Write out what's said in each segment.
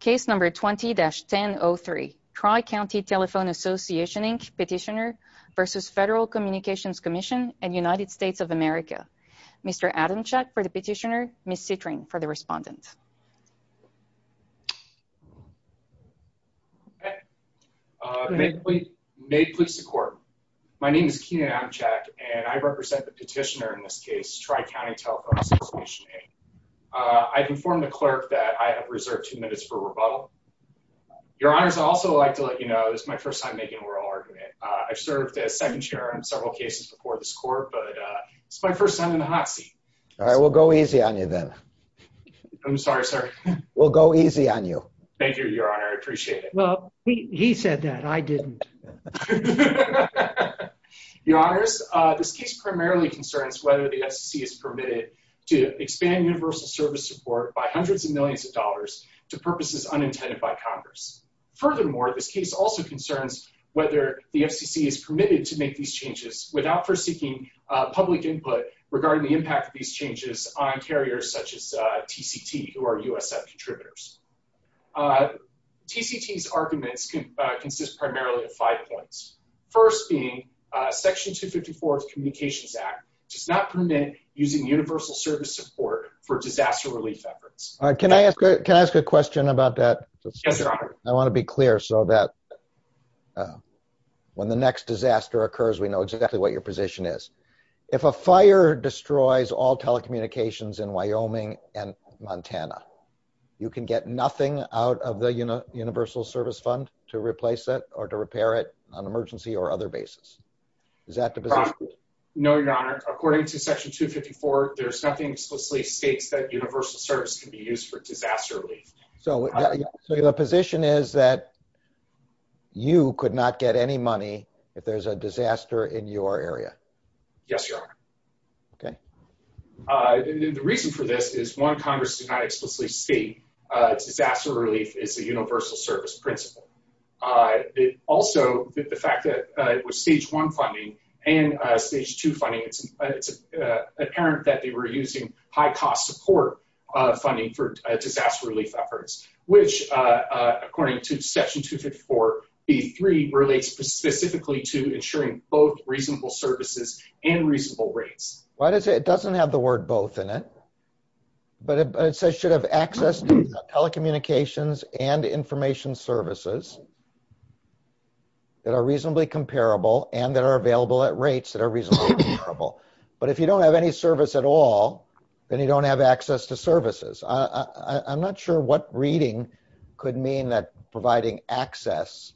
Case number 20-10-03 Tri-County Telephone Association, Inc. Petitioner v. Federal Communications Commission and United States of America. Mr. Adamchak for the petitioner, Ms. Citring for the respondent. May it please the court. My name is Kenan Adamchak and I represent the petitioner in this case, Tri-County Telephone Association, Inc. I've informed the clerk that I have reserved two minutes for rebuttal. Your Honors, I'd also like to let you know this is my first time making a oral argument. I've served as second chair in several cases before this court, but it's my first time in the hot seat. All right, we'll go easy on you then. I'm sorry, sir. We'll go easy on you. Thank you, Your Honor, I appreciate it. Well, he said that, I didn't. Your Honors, this case primarily concerns whether the FCC is permitted to expand universal service support by hundreds of millions of dollars to purposes unintended by Congress. Furthermore, this case also concerns whether the FCC is permitted to make these changes without first seeking public input regarding the impact of these changes on carriers such as TCT, who are USF contributors. TCT's arguments consist primarily of five points. First being, Section 254 of the Universal Service Fund is not a substitute for disaster relief efforts. Can I ask a question about that? Yes, Your Honor. I want to be clear so that when the next disaster occurs, we know exactly what your position is. If a fire destroys all telecommunications in Wyoming and Montana, you can get nothing out of the Universal Service Fund to replace it or to repair it on emergency or other basis. Is that the position? No, Your Honor. According to Section 254, there's nothing explicitly states that universal service can be used for disaster relief. So the position is that you could not get any money if there's a disaster in your area? Yes, Your Honor. Okay. The reason for this is, one, Congress did not explicitly state disaster relief is a universal service principle. It also, the fact that with Stage 1 funding and Stage 2 funding, it's apparent that they were using high-cost support funding for disaster relief efforts, which according to Section 254B3 relates specifically to ensuring both reasonable services and reasonable rates. Why does it, it doesn't have the word both in it, but it says should have access to telecommunications and information services that are reasonably comparable and that are available at all, then you don't have access to services. I'm not sure what reading could mean that providing access,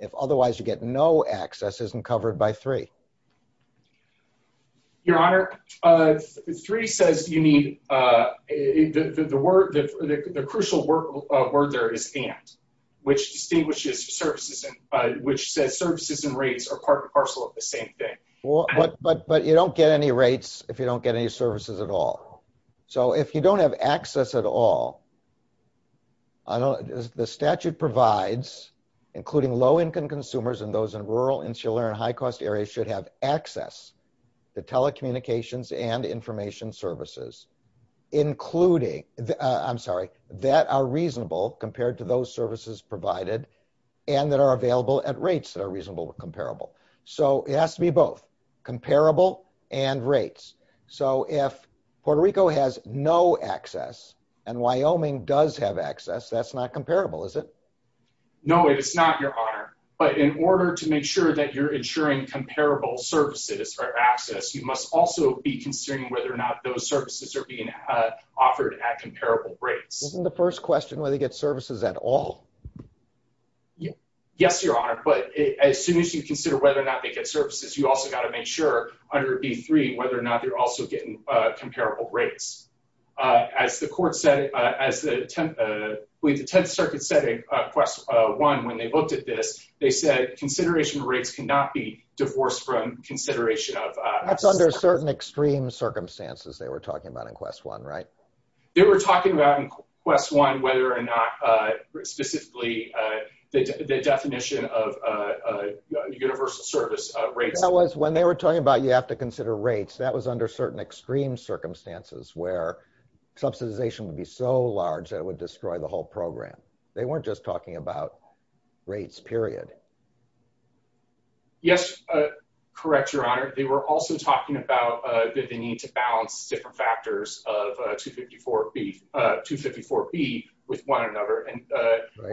if otherwise you get no access, isn't covered by 3. Your Honor, 3 says you need, the word, the crucial word there is and, which distinguishes services and, which says services and rates are part and parcel of the same thing. Well, but you don't get any rates if you don't get any services at all. So, if you don't have access at all, I don't, the statute provides including low-income consumers and those in rural, insular, and high-cost areas should have access to telecommunications and information services, including, I'm sorry, that are reasonable compared to those services provided and that are available at rates that are reasonable or comparable. So, it Puerto Rico has no access and Wyoming does have access. That's not comparable, is it? No, it's not, Your Honor, but in order to make sure that you're ensuring comparable services or access, you must also be considering whether or not those services are being offered at comparable rates. Wasn't the first question whether they get services at all? Yes, Your Honor, but as soon as you consider whether or not they get services, you also got to make sure under B3 whether or not they're also getting comparable rates. As the court said, as the 10th Circuit said in Quest 1 when they looked at this, they said consideration of rates cannot be divorced from consideration of access. That's under certain extreme circumstances they were talking about in Quest 1, right? They were talking about in Quest 1 whether or not specifically the definition of universal service rates. That was when they were talking about you have to consider rates. That was under certain extreme circumstances where subsidization would be so large that it would destroy the whole program. They weren't just talking about rates, period. Yes, correct, Your Honor. They were also talking about the need to balance different factors of 254B with one another, and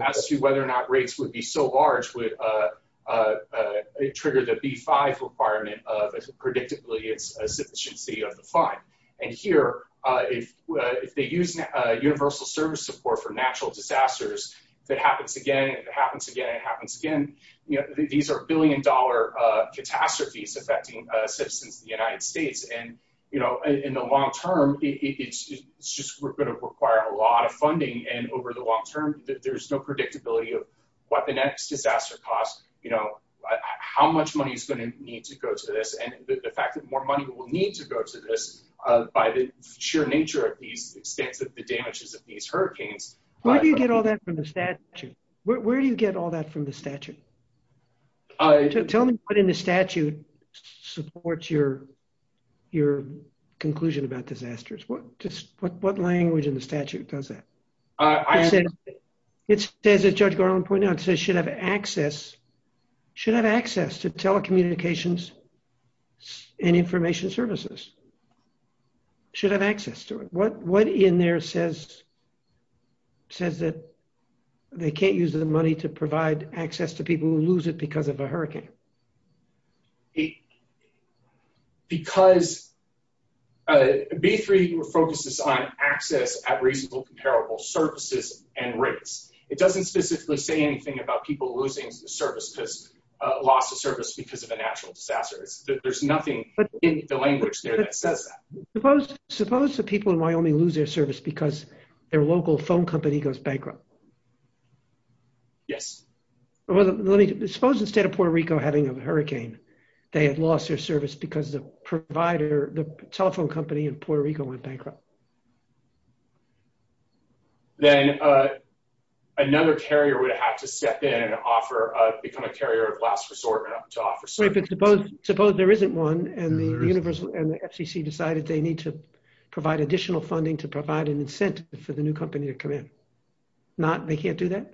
as to whether or not rates would be so large would trigger the B5 requirement of, predictably, its sufficiency of the fund. Here, if they use universal service support for natural disasters, if it happens again, it happens again, it happens again, these are billion-dollar catastrophes affecting citizens in the United States. In the long term, it's just going to require a lot of funding, and over the long term, there's no predictability of what the next disaster costs, how much money is going to need to go to this, and the fact that more money will need to go to this by the sheer nature of the extent of the damages of these hurricanes. Where do you get all that from the statute? Where do you get all that from the statute? Tell me what in the statute supports your conclusion about disasters. What language in the statute does that? I said, it says, as Judge Garland pointed out, it says, should have access, should have access to telecommunications and information services, should have access to it. What in there says that they can't use the money to provide access to people who lose it because of a hurricane? Because B3 focuses on access at reasonable, comparable services and rates. It doesn't specifically say anything about people losing the service because, lost the service because of a natural disaster. There's nothing in the language there that says that. Suppose the people in Wyoming lose their service because their local phone company goes bankrupt? Yes. Suppose instead of Puerto Rico having a hurricane, they had lost their service because the provider, the telephone company in Puerto Rico went bankrupt. Then another carrier would have to step in and offer, become a carrier of last resort to offer services. Suppose there isn't one and the FCC decided they need to provide additional funding to provide an incentive for the new company to come in. They can't do that?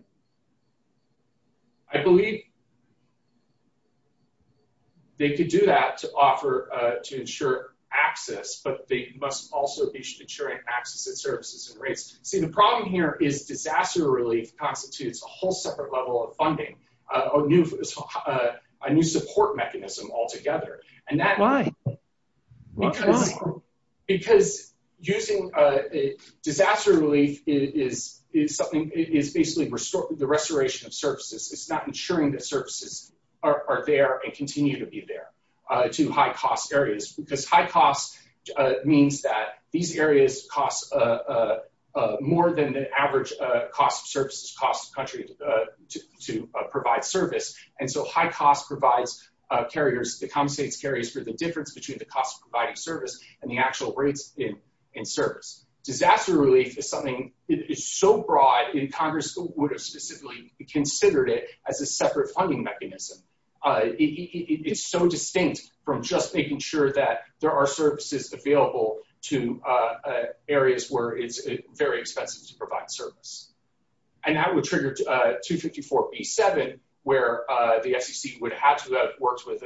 I believe they could do that to offer, to ensure access, but they must also be ensuring access at services and rates. See, the problem here is disaster relief constitutes a whole separate level of funding, a new support mechanism altogether. Why? Because using disaster relief is something, is basically the restoration of ensuring that services are there and continue to be there to high cost areas. Because high cost means that these areas cost more than the average cost of services, cost of country to provide service. And so high cost provides carriers, compensates carriers for the difference between the cost of providing service and the actual rates in service. Disaster relief is something, it's so broad and Congress would have specifically considered it as a separate funding mechanism. It's so distinct from just making sure that there are services available to areas where it's very expensive to provide service. And that would trigger 254B7, where the FCC would have to have worked with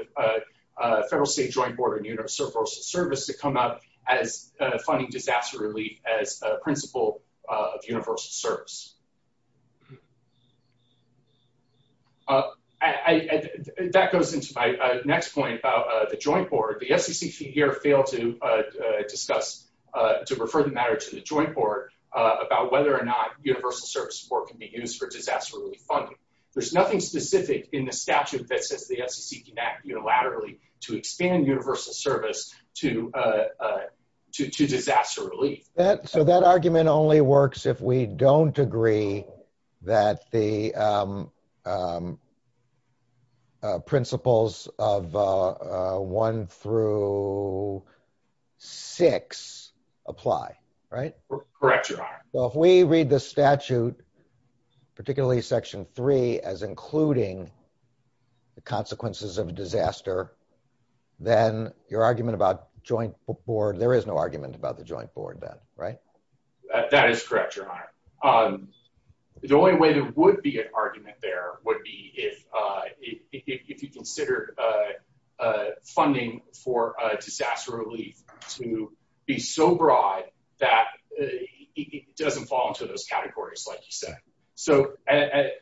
federal, state, joint board of universal service to come up as funding disaster relief as a principle of universal service. That goes into my next point about the joint board. The FCC here failed to discuss, to refer the matter to the joint board about whether or not universal service support can be used for disaster relief funding. There's nothing specific in the statute that says the FCC can act unilaterally to expand universal service to disaster relief. So that argument only works if we don't agree that the principles of one through six apply, right? Correct. So if we read the statute, particularly section three, as including the consequences of disaster, then your argument about joint board, there is no argument about the joint board then, right? That is correct, your honor. The only way there would be an argument there would be if you considered funding for disaster relief to be so broad that it doesn't fall into those categories, like you said. So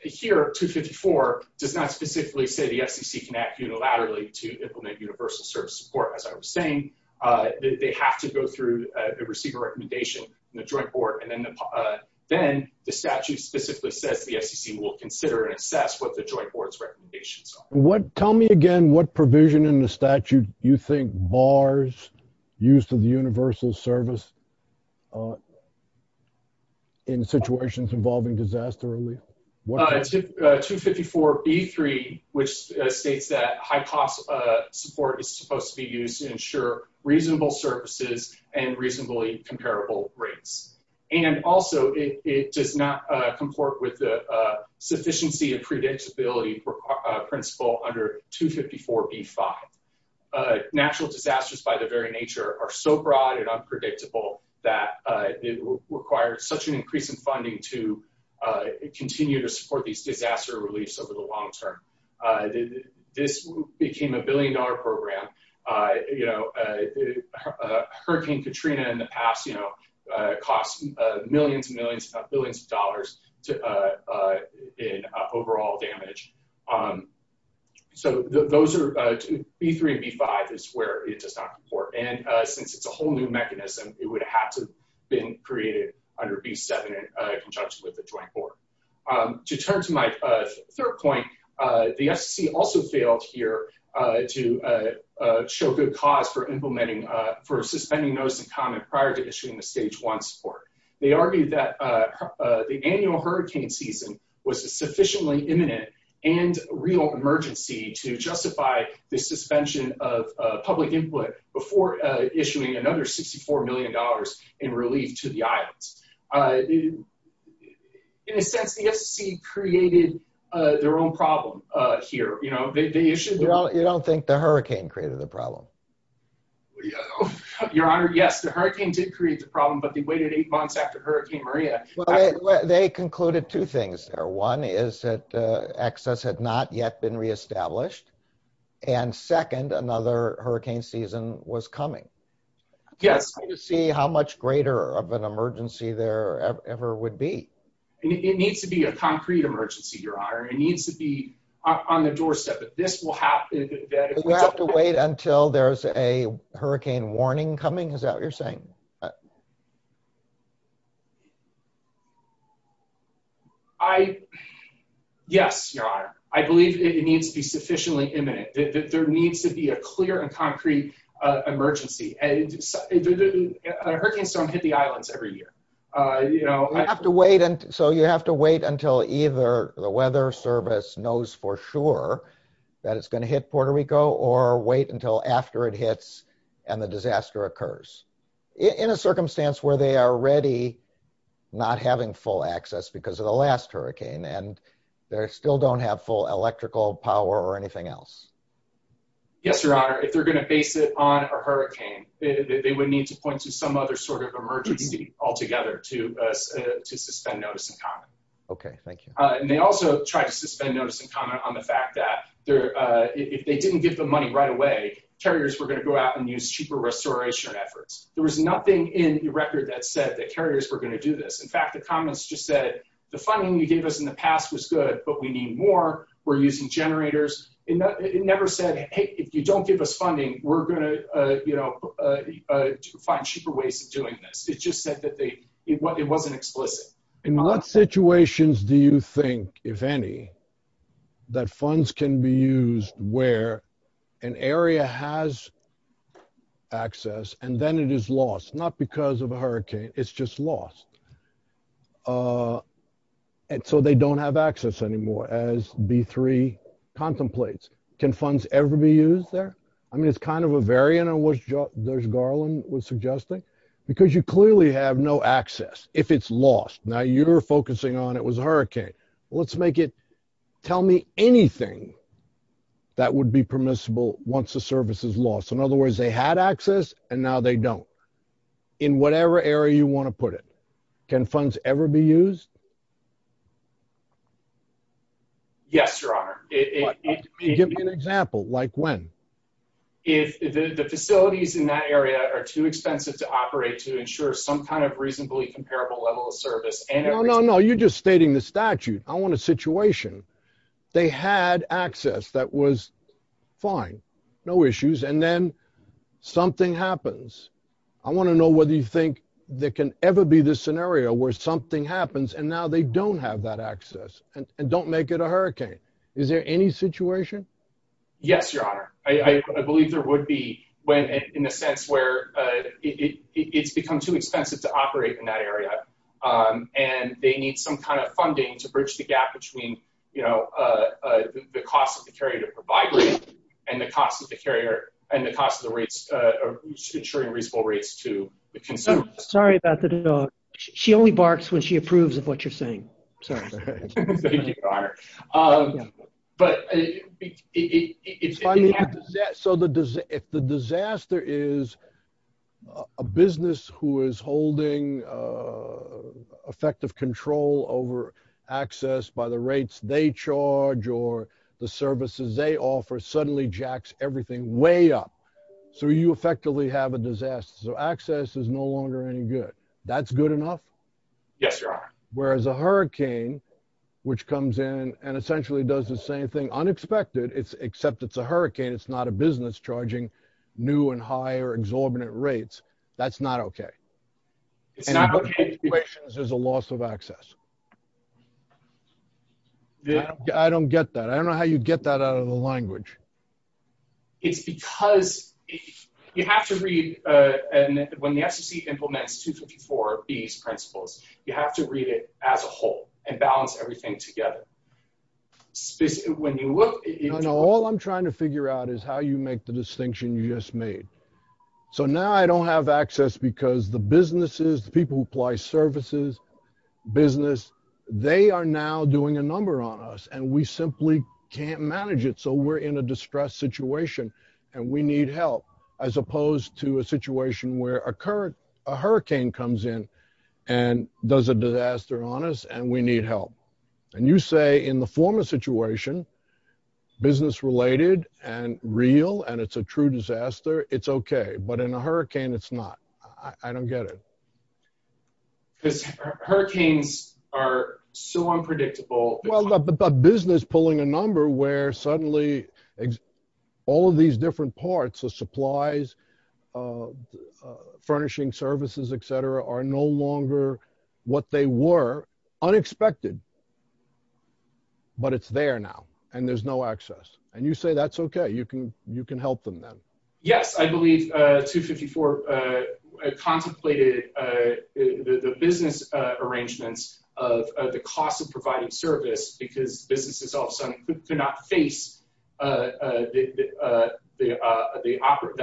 here, 254 does not specifically say the FCC can act unilaterally to implement universal service support, as I was saying. They have to go through and receive a recommendation from the joint board. And then the statute specifically says the FCC will consider and assess what the joint board's recommendations are. Tell me again what provision in the statute you think bars use to the universal service in situations involving disaster relief? 254B3, which states that high cost support is supposed to be used to ensure reasonable services and reasonably comparable rates. And also it does not comport with the sufficiency and predictability principle under 254B5. Natural disasters by their very nature are so broad and unpredictable that it requires such an increase in funding to continue to support these disaster reliefs over the long term. This became a billion dollar program. Hurricane Katrina in the past cost millions and millions of billions of dollars in overall damage. So those are, B3 and B5 is where it does not comport. And since it's a whole new mechanism, it would have to have been created under B7 in conjunction with the joint board. To turn to my third point, the FCC also failed here to show good cause for implementing, for suspending notice and comment prior to issuing the stage one support. They argued that the annual hurricane season was a sufficiently imminent and real emergency to justify the suspension of public input before issuing another $64 million in relief to the islands. In a sense, the FCC created their own problem here. They issued- You don't think the hurricane created the problem? Your Honor, yes, the hurricane did create the problem, but they waited eight months after Hurricane Maria. They concluded two things there. One is that access had not yet been reestablished. And second, another hurricane season was coming. Yes. To see how much greater of an emergency there ever would be. It needs to be a concrete emergency, Your Honor. It needs to be on the doorstep. If this will happen, that- Do we have to wait until there's a hurricane warning coming? Is that what you're saying? I, yes, Your Honor. I believe it needs to be sufficiently imminent. There needs to be a clear and concrete emergency. And hurricanes don't hit the islands every year. So you have to wait until either the weather service knows for sure that it's gonna hit Puerto Rico, or wait until after it hits and the disaster occurs. In a circumstance where they are already not having full access because of the last hurricane, and they still don't have full electrical power or Yes, Your Honor. If they're gonna base it on a hurricane, they would need to point to some other sort of emergency altogether to suspend notice and comment. Okay, thank you. And they also tried to suspend notice and comment on the fact that if they didn't give the money right away, carriers were gonna go out and use cheaper restoration efforts. There was nothing in the record that said that carriers were gonna do this. In fact, the comments just said, the funding you gave us in the past was good, but we need more. We're using generators. It never said, hey, if you don't give us funding, we're gonna find cheaper ways of doing this. It just said that it wasn't explicit. In what situations do you think, if any, that funds can be used where an area has access and then it is lost, not because of a hurricane, it's just lost. And so they don't have access anymore, as B3 contemplates. Can funds ever be used there? I mean, it's kind of a variant of what Judge Garland was suggesting, because you clearly have no access if it's lost. Now you're focusing on it was a hurricane. Let's make it, tell me anything that would be permissible once the service is lost. In other words, they had access and now they don't. In whatever area you wanna put it, can funds ever be used? Yes, Your Honor. Give me an example, like when? If the facilities in that area are too expensive to operate to ensure some kind of reasonably comparable level of service and- No, no, no, you're just stating the statute. I want a situation. They had access that was fine, no issues, and then something happens. I wanna know whether you think there can ever be this scenario where something happens and now they don't have that access and don't make it a hurricane. Is there any situation? Yes, Your Honor. I believe there would be when, in a sense, where it's become too expensive to operate in that area. And they need some kind of funding to bridge the gap between the cost of the carrier and the cost of the rates, ensuring reasonable rates to the consumer. Sorry about the dog. She only barks when she approves of what you're saying. Sorry. Thank you, Your Honor. But if the disaster is a business who is holding effective control over access by the rates they charge or the services they offer, suddenly jacks everything way up. So you effectively have a disaster. So access is no longer any good. That's good enough? Yes, Your Honor. Whereas a hurricane, which comes in and essentially does the same thing, unexpected, except it's a hurricane. It's not a business charging new and high or exorbitant rates. That's not okay. It's not okay. And in both situations, there's a loss of access. I don't get that. I don't know how you get that out of the language. It's because you have to read, when the FCC implements 254B's principles, you have to read it as a whole and balance everything together. All I'm trying to figure out is how you make the distinction you just made. So now I don't have access because the businesses, the people who apply services, business, they are now doing a number on us. And we simply can't manage it. So we're in a distressed situation. And we need help, as opposed to a situation where a hurricane comes in and does a disaster on us, and we need help. And you say in the former situation, business related and real, and it's a true disaster, it's okay. But in a hurricane, it's not. I don't get it. Because hurricanes are so unpredictable. Well, but business pulling a number where suddenly all of these different parts, the supplies, furnishing services, etc., are no longer what they were, unexpected. But it's there now, and there's no access. And you say that's okay, you can help them then. Yes, I believe 254 contemplated the business arrangements of the cost of providing service, because businesses all of a sudden could not face the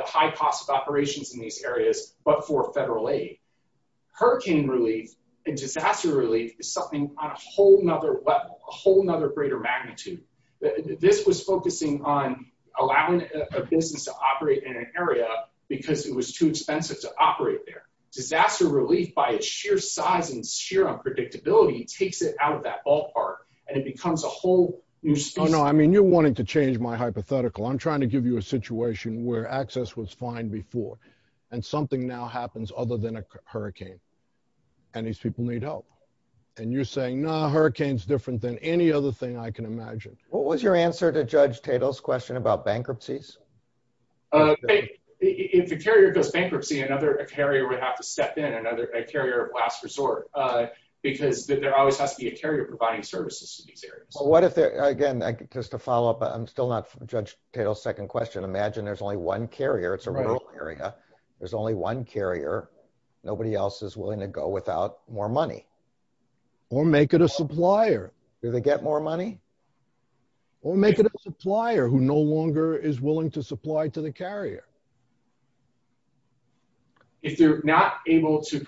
high cost of operations in these areas, but for federal aid. Hurricane relief and disaster relief is something on a whole nother level, a whole nother greater magnitude. This was focusing on allowing a business to operate in an area because it was too expensive to operate there. Disaster relief, by its sheer size and sheer unpredictability, takes it out of that ballpark, and it becomes a whole new space. No, no, I mean, you're wanting to change my hypothetical. I'm trying to give you a situation where access was fine before, and something now happens other than a hurricane, and these people need help. And you're saying, nah, hurricane's different than any other thing I can imagine. What was your answer to Judge Tatel's question about bankruptcies? If a carrier goes bankruptcy, another carrier would have to step in, another carrier of last resort, because there always has to be a carrier providing services to these areas. What if, again, just to follow up, I'm still not from Judge Tatel's second question. Imagine there's only one carrier, it's a rural area, there's only one carrier. Nobody else is willing to go without more money. Or make it a supplier. Do they get more money? Or make it a supplier who no longer is willing to supply to the carrier. If they're not able to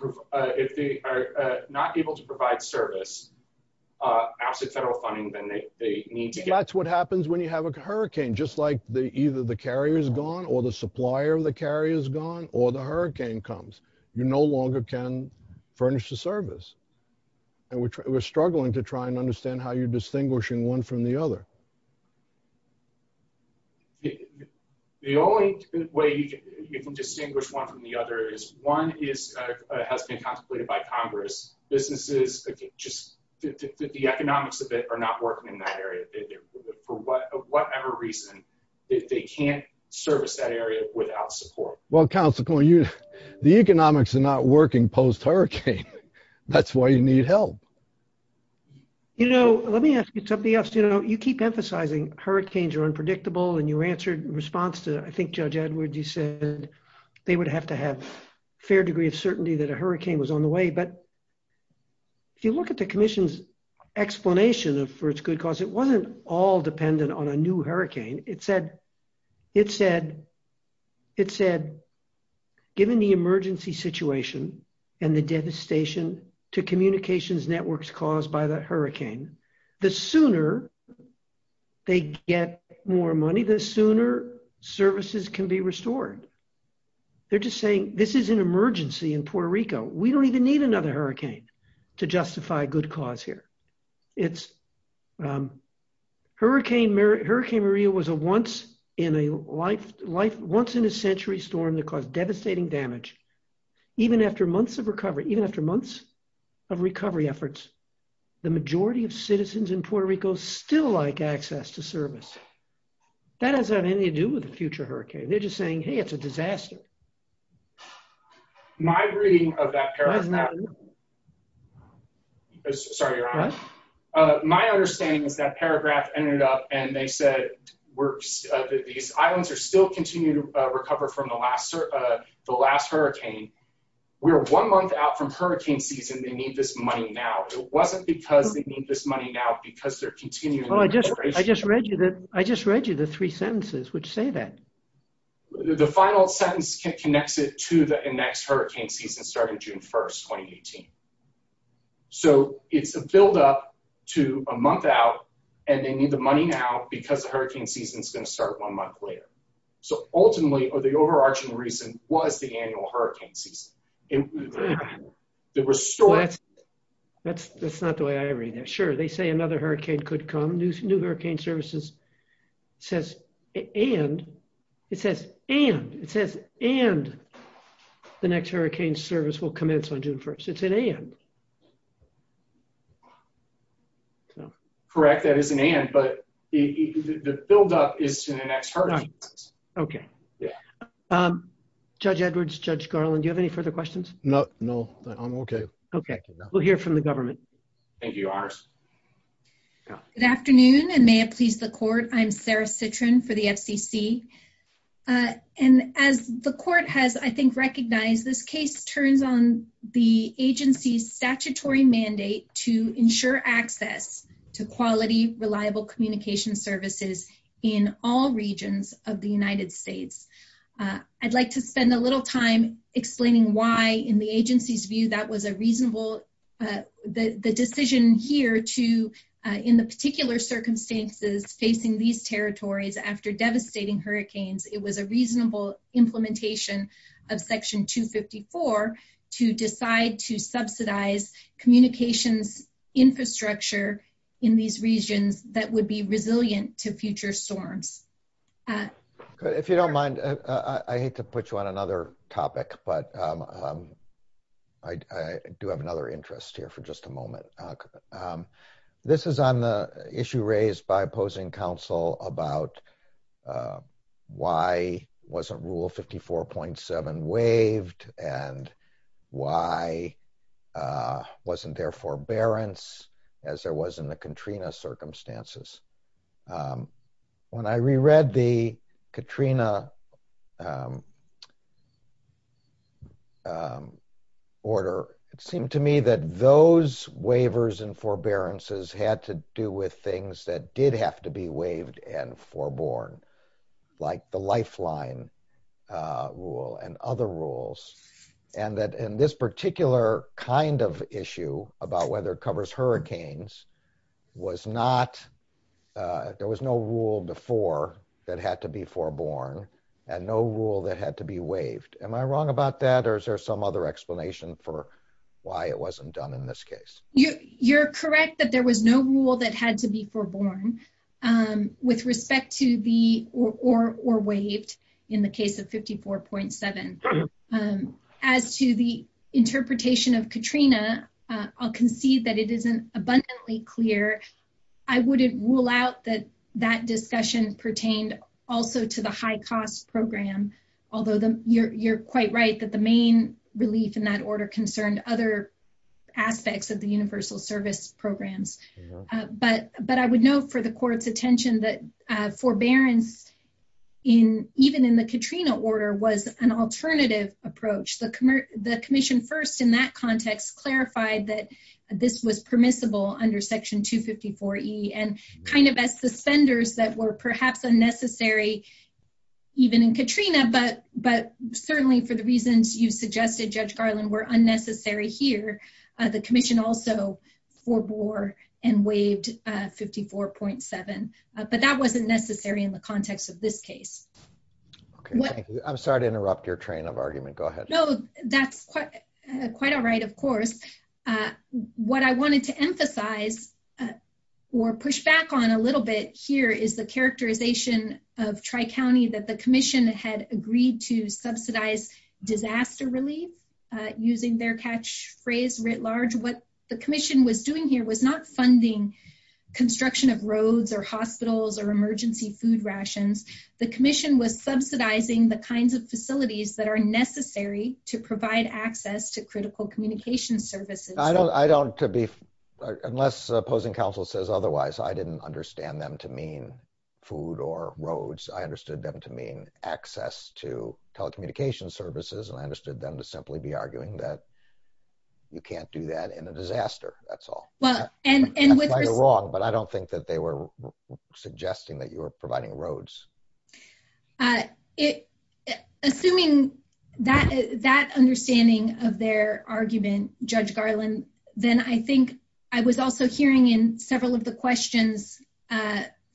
provide service, after federal funding, then they need to get- That's what happens when you have a hurricane. Just like either the carrier's gone, or the supplier of the carrier's gone, or the hurricane comes. You no longer can furnish the service. And we're struggling to try and distinguish one from the other. The only way you can distinguish one from the other is, one has been contemplated by Congress. Businesses, just the economics of it are not working in that area. For whatever reason, they can't service that area without support. Well, Councilman, the economics are not working post hurricane. That's why you need help. You know, let me ask you something else. You keep emphasizing hurricanes are unpredictable. And you answered in response to, I think, Judge Edwards, you said they would have to have a fair degree of certainty that a hurricane was on the way. But if you look at the commission's explanation for its good cause, it wasn't all dependent on a new hurricane. It said, given the emergency situation and the devastation to communications networks caused by the hurricane, the sooner they get more money, the sooner services can be restored. They're just saying, this is an emergency in Puerto Rico. We don't even need another hurricane to justify a good cause here. Hurricane Maria was a once in a century storm that caused devastating damage. Even after months of recovery, even after months of recovery efforts, the majority of citizens in Puerto Rico still like access to service. That has nothing to do with the future hurricane. They're just saying, hey, it's a disaster. My reading of that paragraph- That's not true. Sorry, Your Honor. My understanding is that paragraph ended up, and they said, these islands are still continuing to recover from the last hurricane. We're one month out from hurricane season. They need this money now. It wasn't because they need this money now, because they're continuing- I just read you the three sentences which say that. The final sentence connects it to the next hurricane season starting June 1st, 2018. So it's a buildup to a month out, and they need the money now because the hurricane season is going to start one month later. So ultimately, the overarching reason was the annual hurricane season. The restore- That's not the way I read it. Sure, they say another hurricane could come. New hurricane services says, and, it says, and, it says, and the next hurricane service will commence on June 1st. It's an and. Correct, that is an and, but the buildup is to the next hurricane. All right, okay. Yeah. Judge Edwards, Judge Garland, do you have any further questions? No, no, I'm okay. Okay, we'll hear from the government. Thank you, Your Honors. Good afternoon, and may it please the court. I'm Sarah Citrin for the FCC. this case turns on the agency's side, the agency's statutory mandate to ensure access to quality, reliable communication services in all regions of the United States. I'd like to spend a little time explaining why, in the agency's view, that was a reasonable, the decision here to, in the particular circumstances facing these territories after devastating hurricanes, it was a reasonable implementation of Section 254 to decide to subsidize communications infrastructure in these regions that would be resilient to future storms. If you don't mind, I hate to put you on another topic, but I do have another interest here for just a moment. This is on the issue raised by opposing counsel about why wasn't Rule 54.7 waived and why wasn't there forbearance as there was in the Katrina circumstances. When I reread the Katrina order, it seemed to me that those waivers and forbearances had to do with things that did have to be waived and foreborn, like the lifeline rule and other rules and that in this particular kind of issue about whether it covers hurricanes was not, there was no rule before that had to be foreborn and no rule that had to be waived. Am I wrong about that? Or is there some other explanation for why it wasn't done in this case? You're correct that there was no rule that had to be foreborn with respect to the, or waived in the case of 54.7. As to the interpretation of Katrina, I'll concede that it isn't abundantly clear. I wouldn't rule out that that discussion pertained also to the high cost program, although you're quite right that the main relief in that order concerned other aspects of the universal service programs. But I would note for the court's attention that forbearance even in the Katrina order was an alternative approach. The commission first in that context clarified that this was permissible under section 254E and kind of as suspenders that were perhaps unnecessary even in Katrina, but certainly for the reasons you've suggested Judge Garland were unnecessary here, the commission also forebore and waived 54.7. But that wasn't necessary in the context of this case. Okay, thank you. I'm sorry to interrupt your train of argument. Go ahead. No, that's quite all right, of course. What I wanted to emphasize or push back on a little bit here is the characterization of Tri-County that the commission had agreed to subsidize disaster relief using their catch phrase writ large. What the commission was doing here was not funding construction of roads or hospitals or emergency food rations. The commission was subsidizing the kinds of facilities that are necessary to provide access to critical communication services. I don't to be, unless opposing counsel says otherwise, I didn't understand them to mean food or roads. I understood them to mean access to telecommunication services. And I understood them to simply be arguing that you can't do that in a disaster, that's all. Well, and- That's why you're wrong, but I don't think that they were suggesting that you were providing roads. Assuming that understanding of their argument, Judge Garland, then I think I was also hearing in several of the questions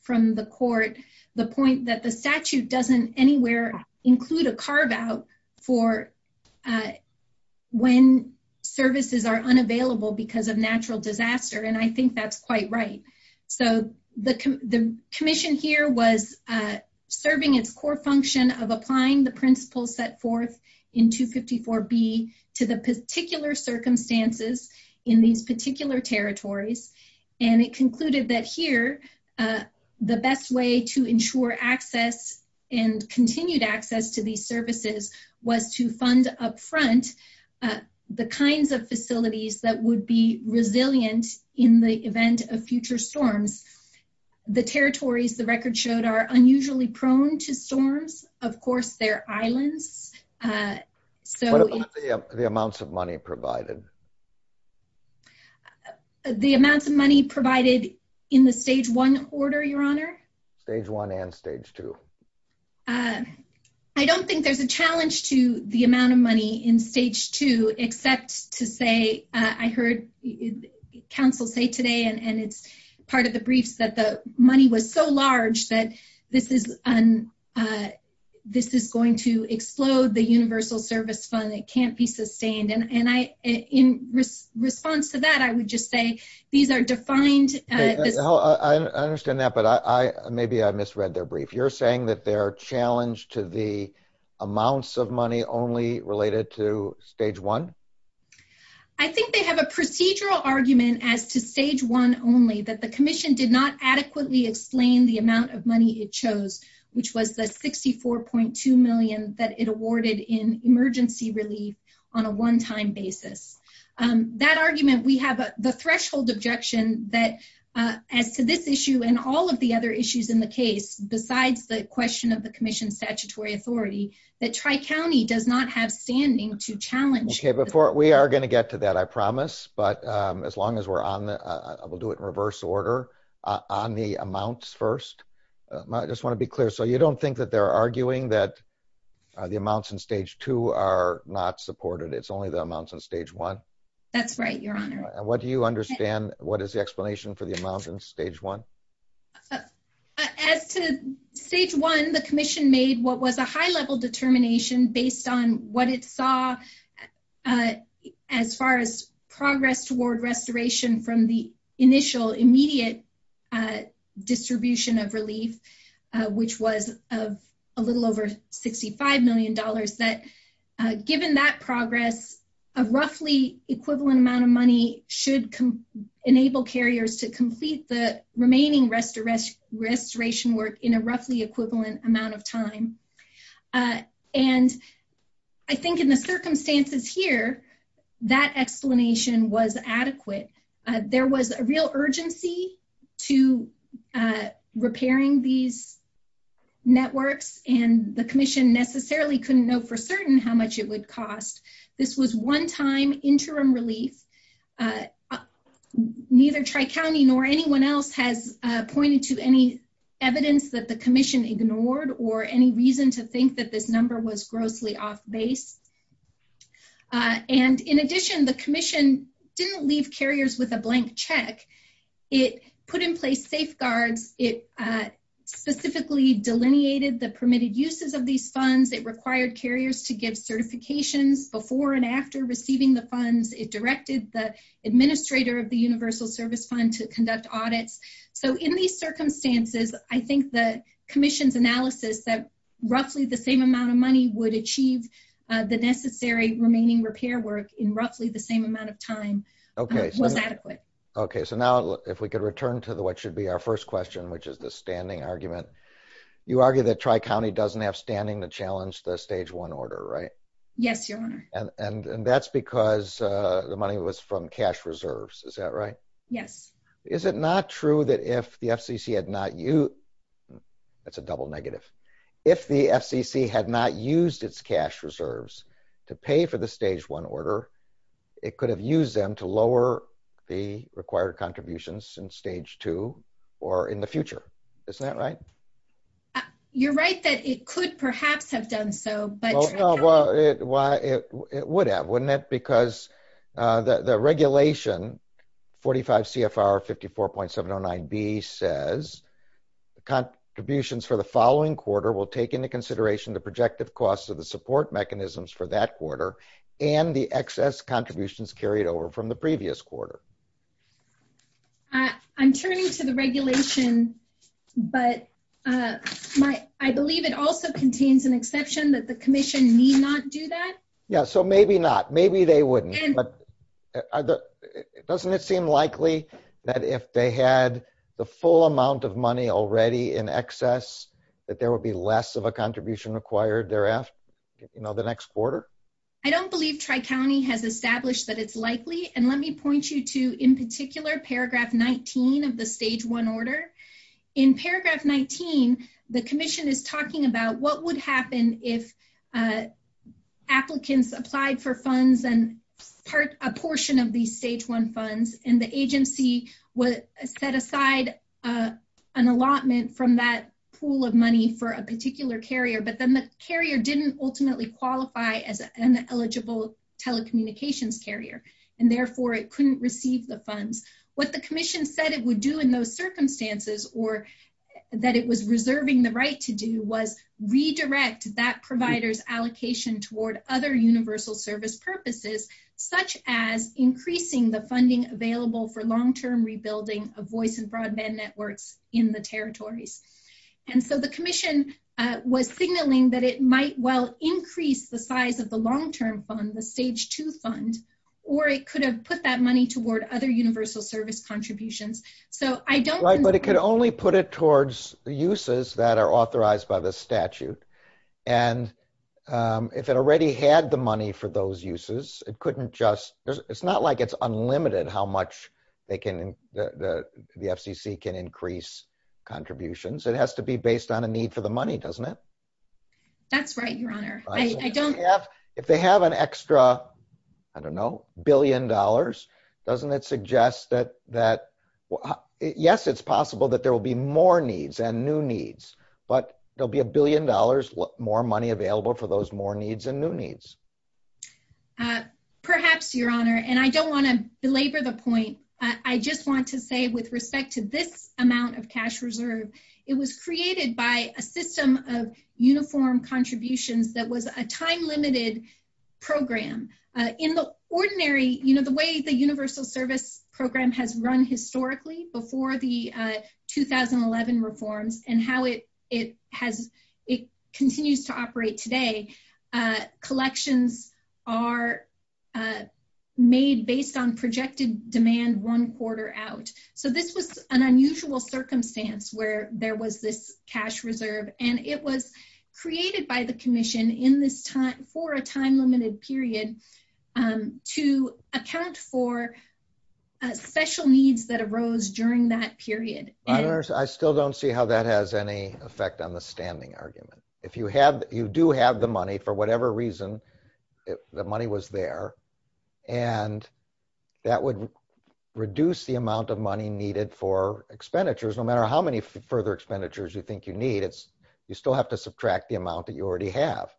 from the court, the point that the statute doesn't anywhere include a carve out for when services are unavailable because of natural disaster. And I think that's quite right. So the commission here was serving its core function of applying the principles set forth in 254B to the particular circumstances in these particular territories. And it concluded that here, the best way to ensure access and continued access to these services was to fund upfront the kinds of facilities that would be resilient in the event of future storms. The territories, the record showed, are unusually prone to storms. Of course, they're islands. So- What about the amounts of money provided? The amounts of money provided in the stage one order, Your Honor? Stage one and stage two. I don't think there's a challenge to the amount of money in stage two, except to say, I heard counsel say today, and it's part of the briefs that the money was so large that this is going to explode the universal service fund that can't be sustained. And in response to that, I would just say, these are defined- I understand that, but maybe I misread their brief. You're saying that they're challenged to the amounts of money only related to stage one? I think they have a procedural argument as to stage one only, that the commission did not adequately explain the amount of money it chose, which was the $64.2 million that it awarded in emergency relief on a one-time basis. That argument, we have the threshold objection that as to this issue and all of the other issues in the case, besides the question of the commission's statutory authority, that Tri-County does not have standing to challenge- Okay, we are going to get to that, I promise. But as long as we're on the- we'll do it in reverse order. On the amounts first, I just want to be clear. So you don't think that they're arguing that the amounts in stage two are not supported, it's only the amounts in stage one? That's right, your honor. And what do you understand, what is the explanation for the amounts in stage one? As to stage one, the commission made what was a high-level determination based on what it saw as far as progress toward restoration from the initial immediate distribution of relief, which was of a little over $65 million, a roughly equivalent amount of money should enable carriers to complete the remaining restoration work in a roughly equivalent amount of time. And I think in the circumstances here, that explanation was adequate. There was a real urgency to repairing these networks and the commission necessarily couldn't know for certain how much it would cost. This was one time interim relief, neither Tri-County nor anyone else has pointed to any evidence that the commission ignored or any reason to think that this number was grossly off base. And in addition, the commission didn't leave carriers with a blank check, it put in place safeguards, it specifically delineated the permitted uses of these funds, it required carriers to give certifications before and after receiving the funds, it directed the administrator of the Universal Service Fund to conduct audits. So in these circumstances, I think the commission's analysis that roughly the same amount of money would achieve the necessary remaining repair work in roughly the same amount of time was adequate. Okay, so now if we could return to what should be our first question, which is the standing argument. You argue that Tri-County doesn't have standing to challenge the stage one order, right? Yes, Your Honor. And that's because the money was from cash reserves, is that right? Yes. Is it not true that if the FCC had not used, that's a double negative, if the FCC had not used its cash reserves to pay for the stage one order, it could have used them to lower the required contributions in stage two or in the future, is that right? You're right that it could perhaps have done so, but Tri-County- Well, it would have, wouldn't it? Because the regulation 45 CFR 54.709B says, contributions for the following quarter will take into consideration the projective costs of the support mechanisms for that quarter and the excess contributions carried over from the previous quarter. I'm turning to the regulation, but I believe it also contains an exception that the commission need not do that. Yeah, so maybe not, maybe they wouldn't, but doesn't it seem likely that if they had the full amount of money already in excess, that there will be less of a contribution required thereafter, you know, the next quarter? I don't believe Tri-County has established that it's likely, and let me point you to in particular paragraph 19 of the stage one order. In paragraph 19, the commission is talking about what would happen if applicants applied for funds and a portion of these stage one funds and the agency would set aside an allotment from that pool of money for a particular carrier, but then the carrier didn't ultimately qualify as an eligible telecommunications carrier, and therefore it couldn't receive the funds. What the commission said it would do in those circumstances or that it was reserving the right to do was redirect that provider's allocation toward other universal service purposes, such as increasing the funding available for long-term rebuilding of voice and broadband networks in the territories. And so the commission was signaling that it might well increase the size of the long-term fund, the stage two fund, or it could have put that money toward other universal service contributions. So I don't- Right, but it could only put it towards the uses that are authorized by the statute. And if it already had the money for those uses, it couldn't just, it's not like it's unlimited how much they can, the FCC can increase contributions. It has to be based on a need for the money, doesn't it? That's right, your honor. I don't- If they have an extra, I don't know, billion dollars, doesn't that suggest that, yes, it's possible that there will be more needs and new needs, but there'll be a billion dollars more money available for those more needs and new needs. Perhaps, your honor, and I don't wanna belabor the point. I just want to say with respect to this amount of cash reserve, it was created by a system of uniform contributions that was a time-limited program. In the ordinary, the way the universal service program has run historically before the 2011 reforms and how it continues to operate today, collections are made based on projected demand one quarter out. So this was an unusual circumstance where there was this cash reserve and it was created by the commission in this time, for a time-limited period, to account for special needs that arose during that period. I still don't see how that has any effect on the standing argument. If you do have the money for whatever reason, the money was there, and that would reduce the amount of money needed for expenditures, no matter how many further expenditures you think you need, you still have to subtract the amount that you already have.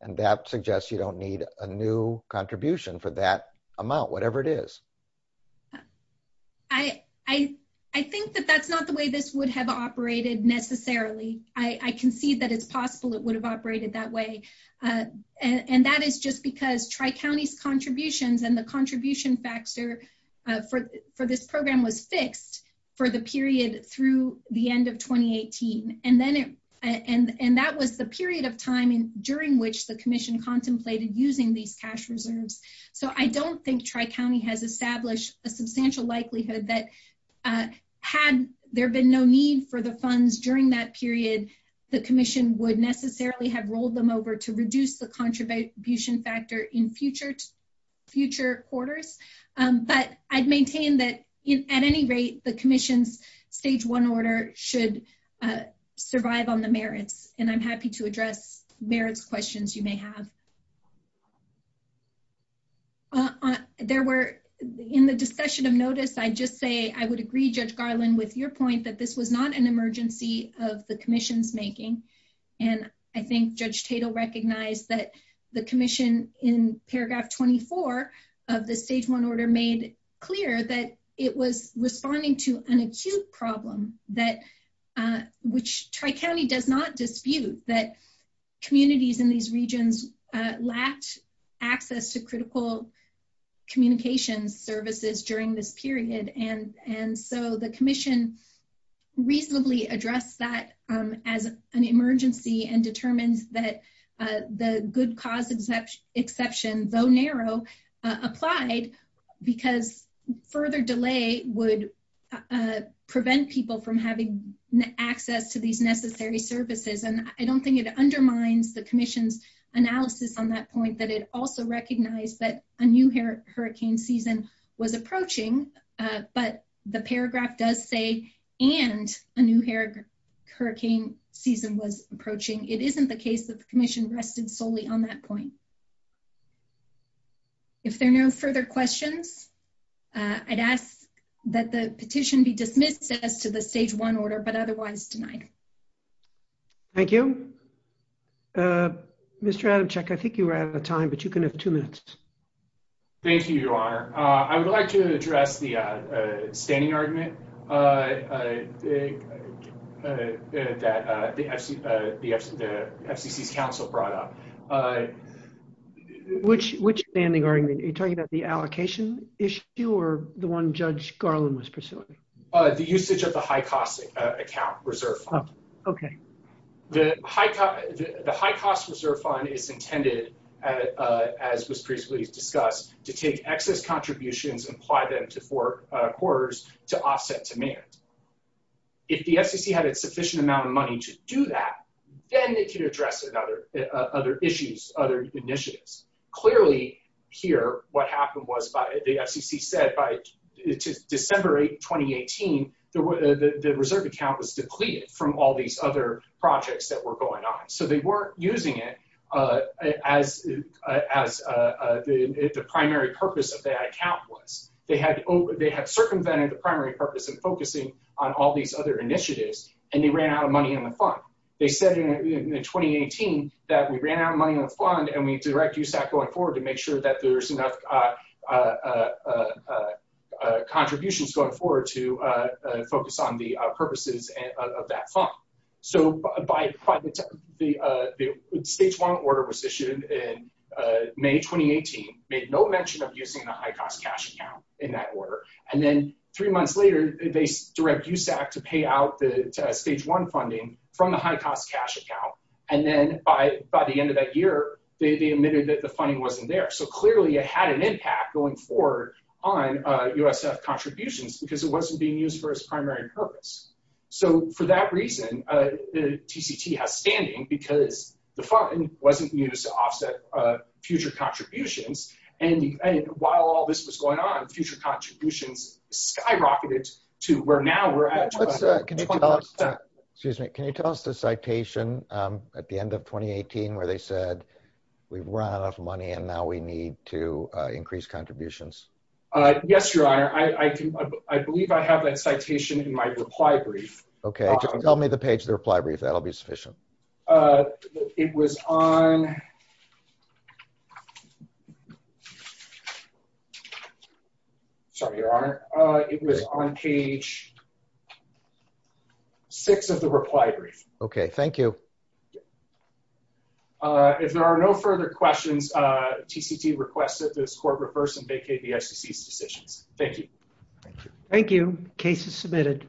And that suggests you don't need a new contribution for that amount, whatever it is. I think that that's not the way this would have operated necessarily. I can see that it's possible it would have operated that way. And that is just because Tri-County's contributions and the contribution factor for this program was fixed for the period through the end of 2018. And that was the period of time during which the commission contemplated using these cash reserves. So I don't think Tri-County has established a substantial likelihood that had there been no need for the funds during that period, the commission would necessarily have rolled them over to reduce the contribution factor in future quarters. But I'd maintain that at any rate, the commission's stage one order should survive on the merits. And I'm happy to address merits questions you may have. There were in the discussion of notice, I just say, I would agree Judge Garland with your point that this was not an emergency of the commission's making. And I think Judge Tatel recognized that the commission in paragraph 24 of the stage one order made clear that it was responding to an acute problem that which Tri-County does not dispute that communities in these regions lacked access to critical communications services during this period. And so the commission reasonably addressed that as an emergency and determines that the good cause exception, though narrow, applied because further delay would prevent people from having access to these necessary services. And I don't think it undermines the commission's analysis on that point that it also recognized that a new hurricane season was approaching, but the paragraph does say, and a new hurricane season was approaching. It isn't the case that the commission rested solely on that point. If there are no further questions, I'd ask that the petition be dismissed as to the stage one order, but otherwise denied. Thank you. Mr. Adamczyk, I think you were out of time, but you can have two minutes. Thank you, Your Honor. I would like to address the standing argument that the FCC's counsel brought up. Which standing argument? Are you talking about the allocation issue or the one Judge Garland was pursuing? The usage of the high cost account reserve fund. Okay. The high cost reserve fund is intended, as was previously discussed, to take excess contributions and apply them to four quarters to offset demand. If the FCC had a sufficient amount of money to do that, then it can address other issues, other initiatives. Clearly here, what happened was the FCC said by December 2018, the reserve account was depleted from all these other projects that were going on. So they weren't using it as the primary purpose of that account was. They had circumvented the primary purpose of focusing on all these other initiatives and they ran out of money in the fund. They said in 2018 that we ran out of money in the fund and we need to direct USAC going forward to make sure that there's enough contributions going forward to focus on the purposes of that fund. So by the time the stage one order was issued in May 2018, made no mention of using the high cost cash account in that order. And then three months later, they direct USAC to pay out the stage one funding from the high cost cash account. And then by the end of that year, they admitted that the funding wasn't there. So clearly it had an impact going forward on USF contributions because it wasn't being used for its primary purpose. So for that reason, the TCT has standing because the fund wasn't used to offset future contributions. And while all this was going on, future contributions skyrocketed to where now we're at. Excuse me, can you tell us the citation at the end of 2018, where they said, we've run out of money and now we need to increase contributions? Yes, your honor. I believe I have that citation in my reply brief. Okay, just tell me the page of the reply brief. That'll be sufficient. It was on, sorry, your honor. It was on page six of the reply brief. Okay, thank you. If there are no further questions, TCT requested this court reverse and vacate the SEC's decisions. Thank you. Case is submitted.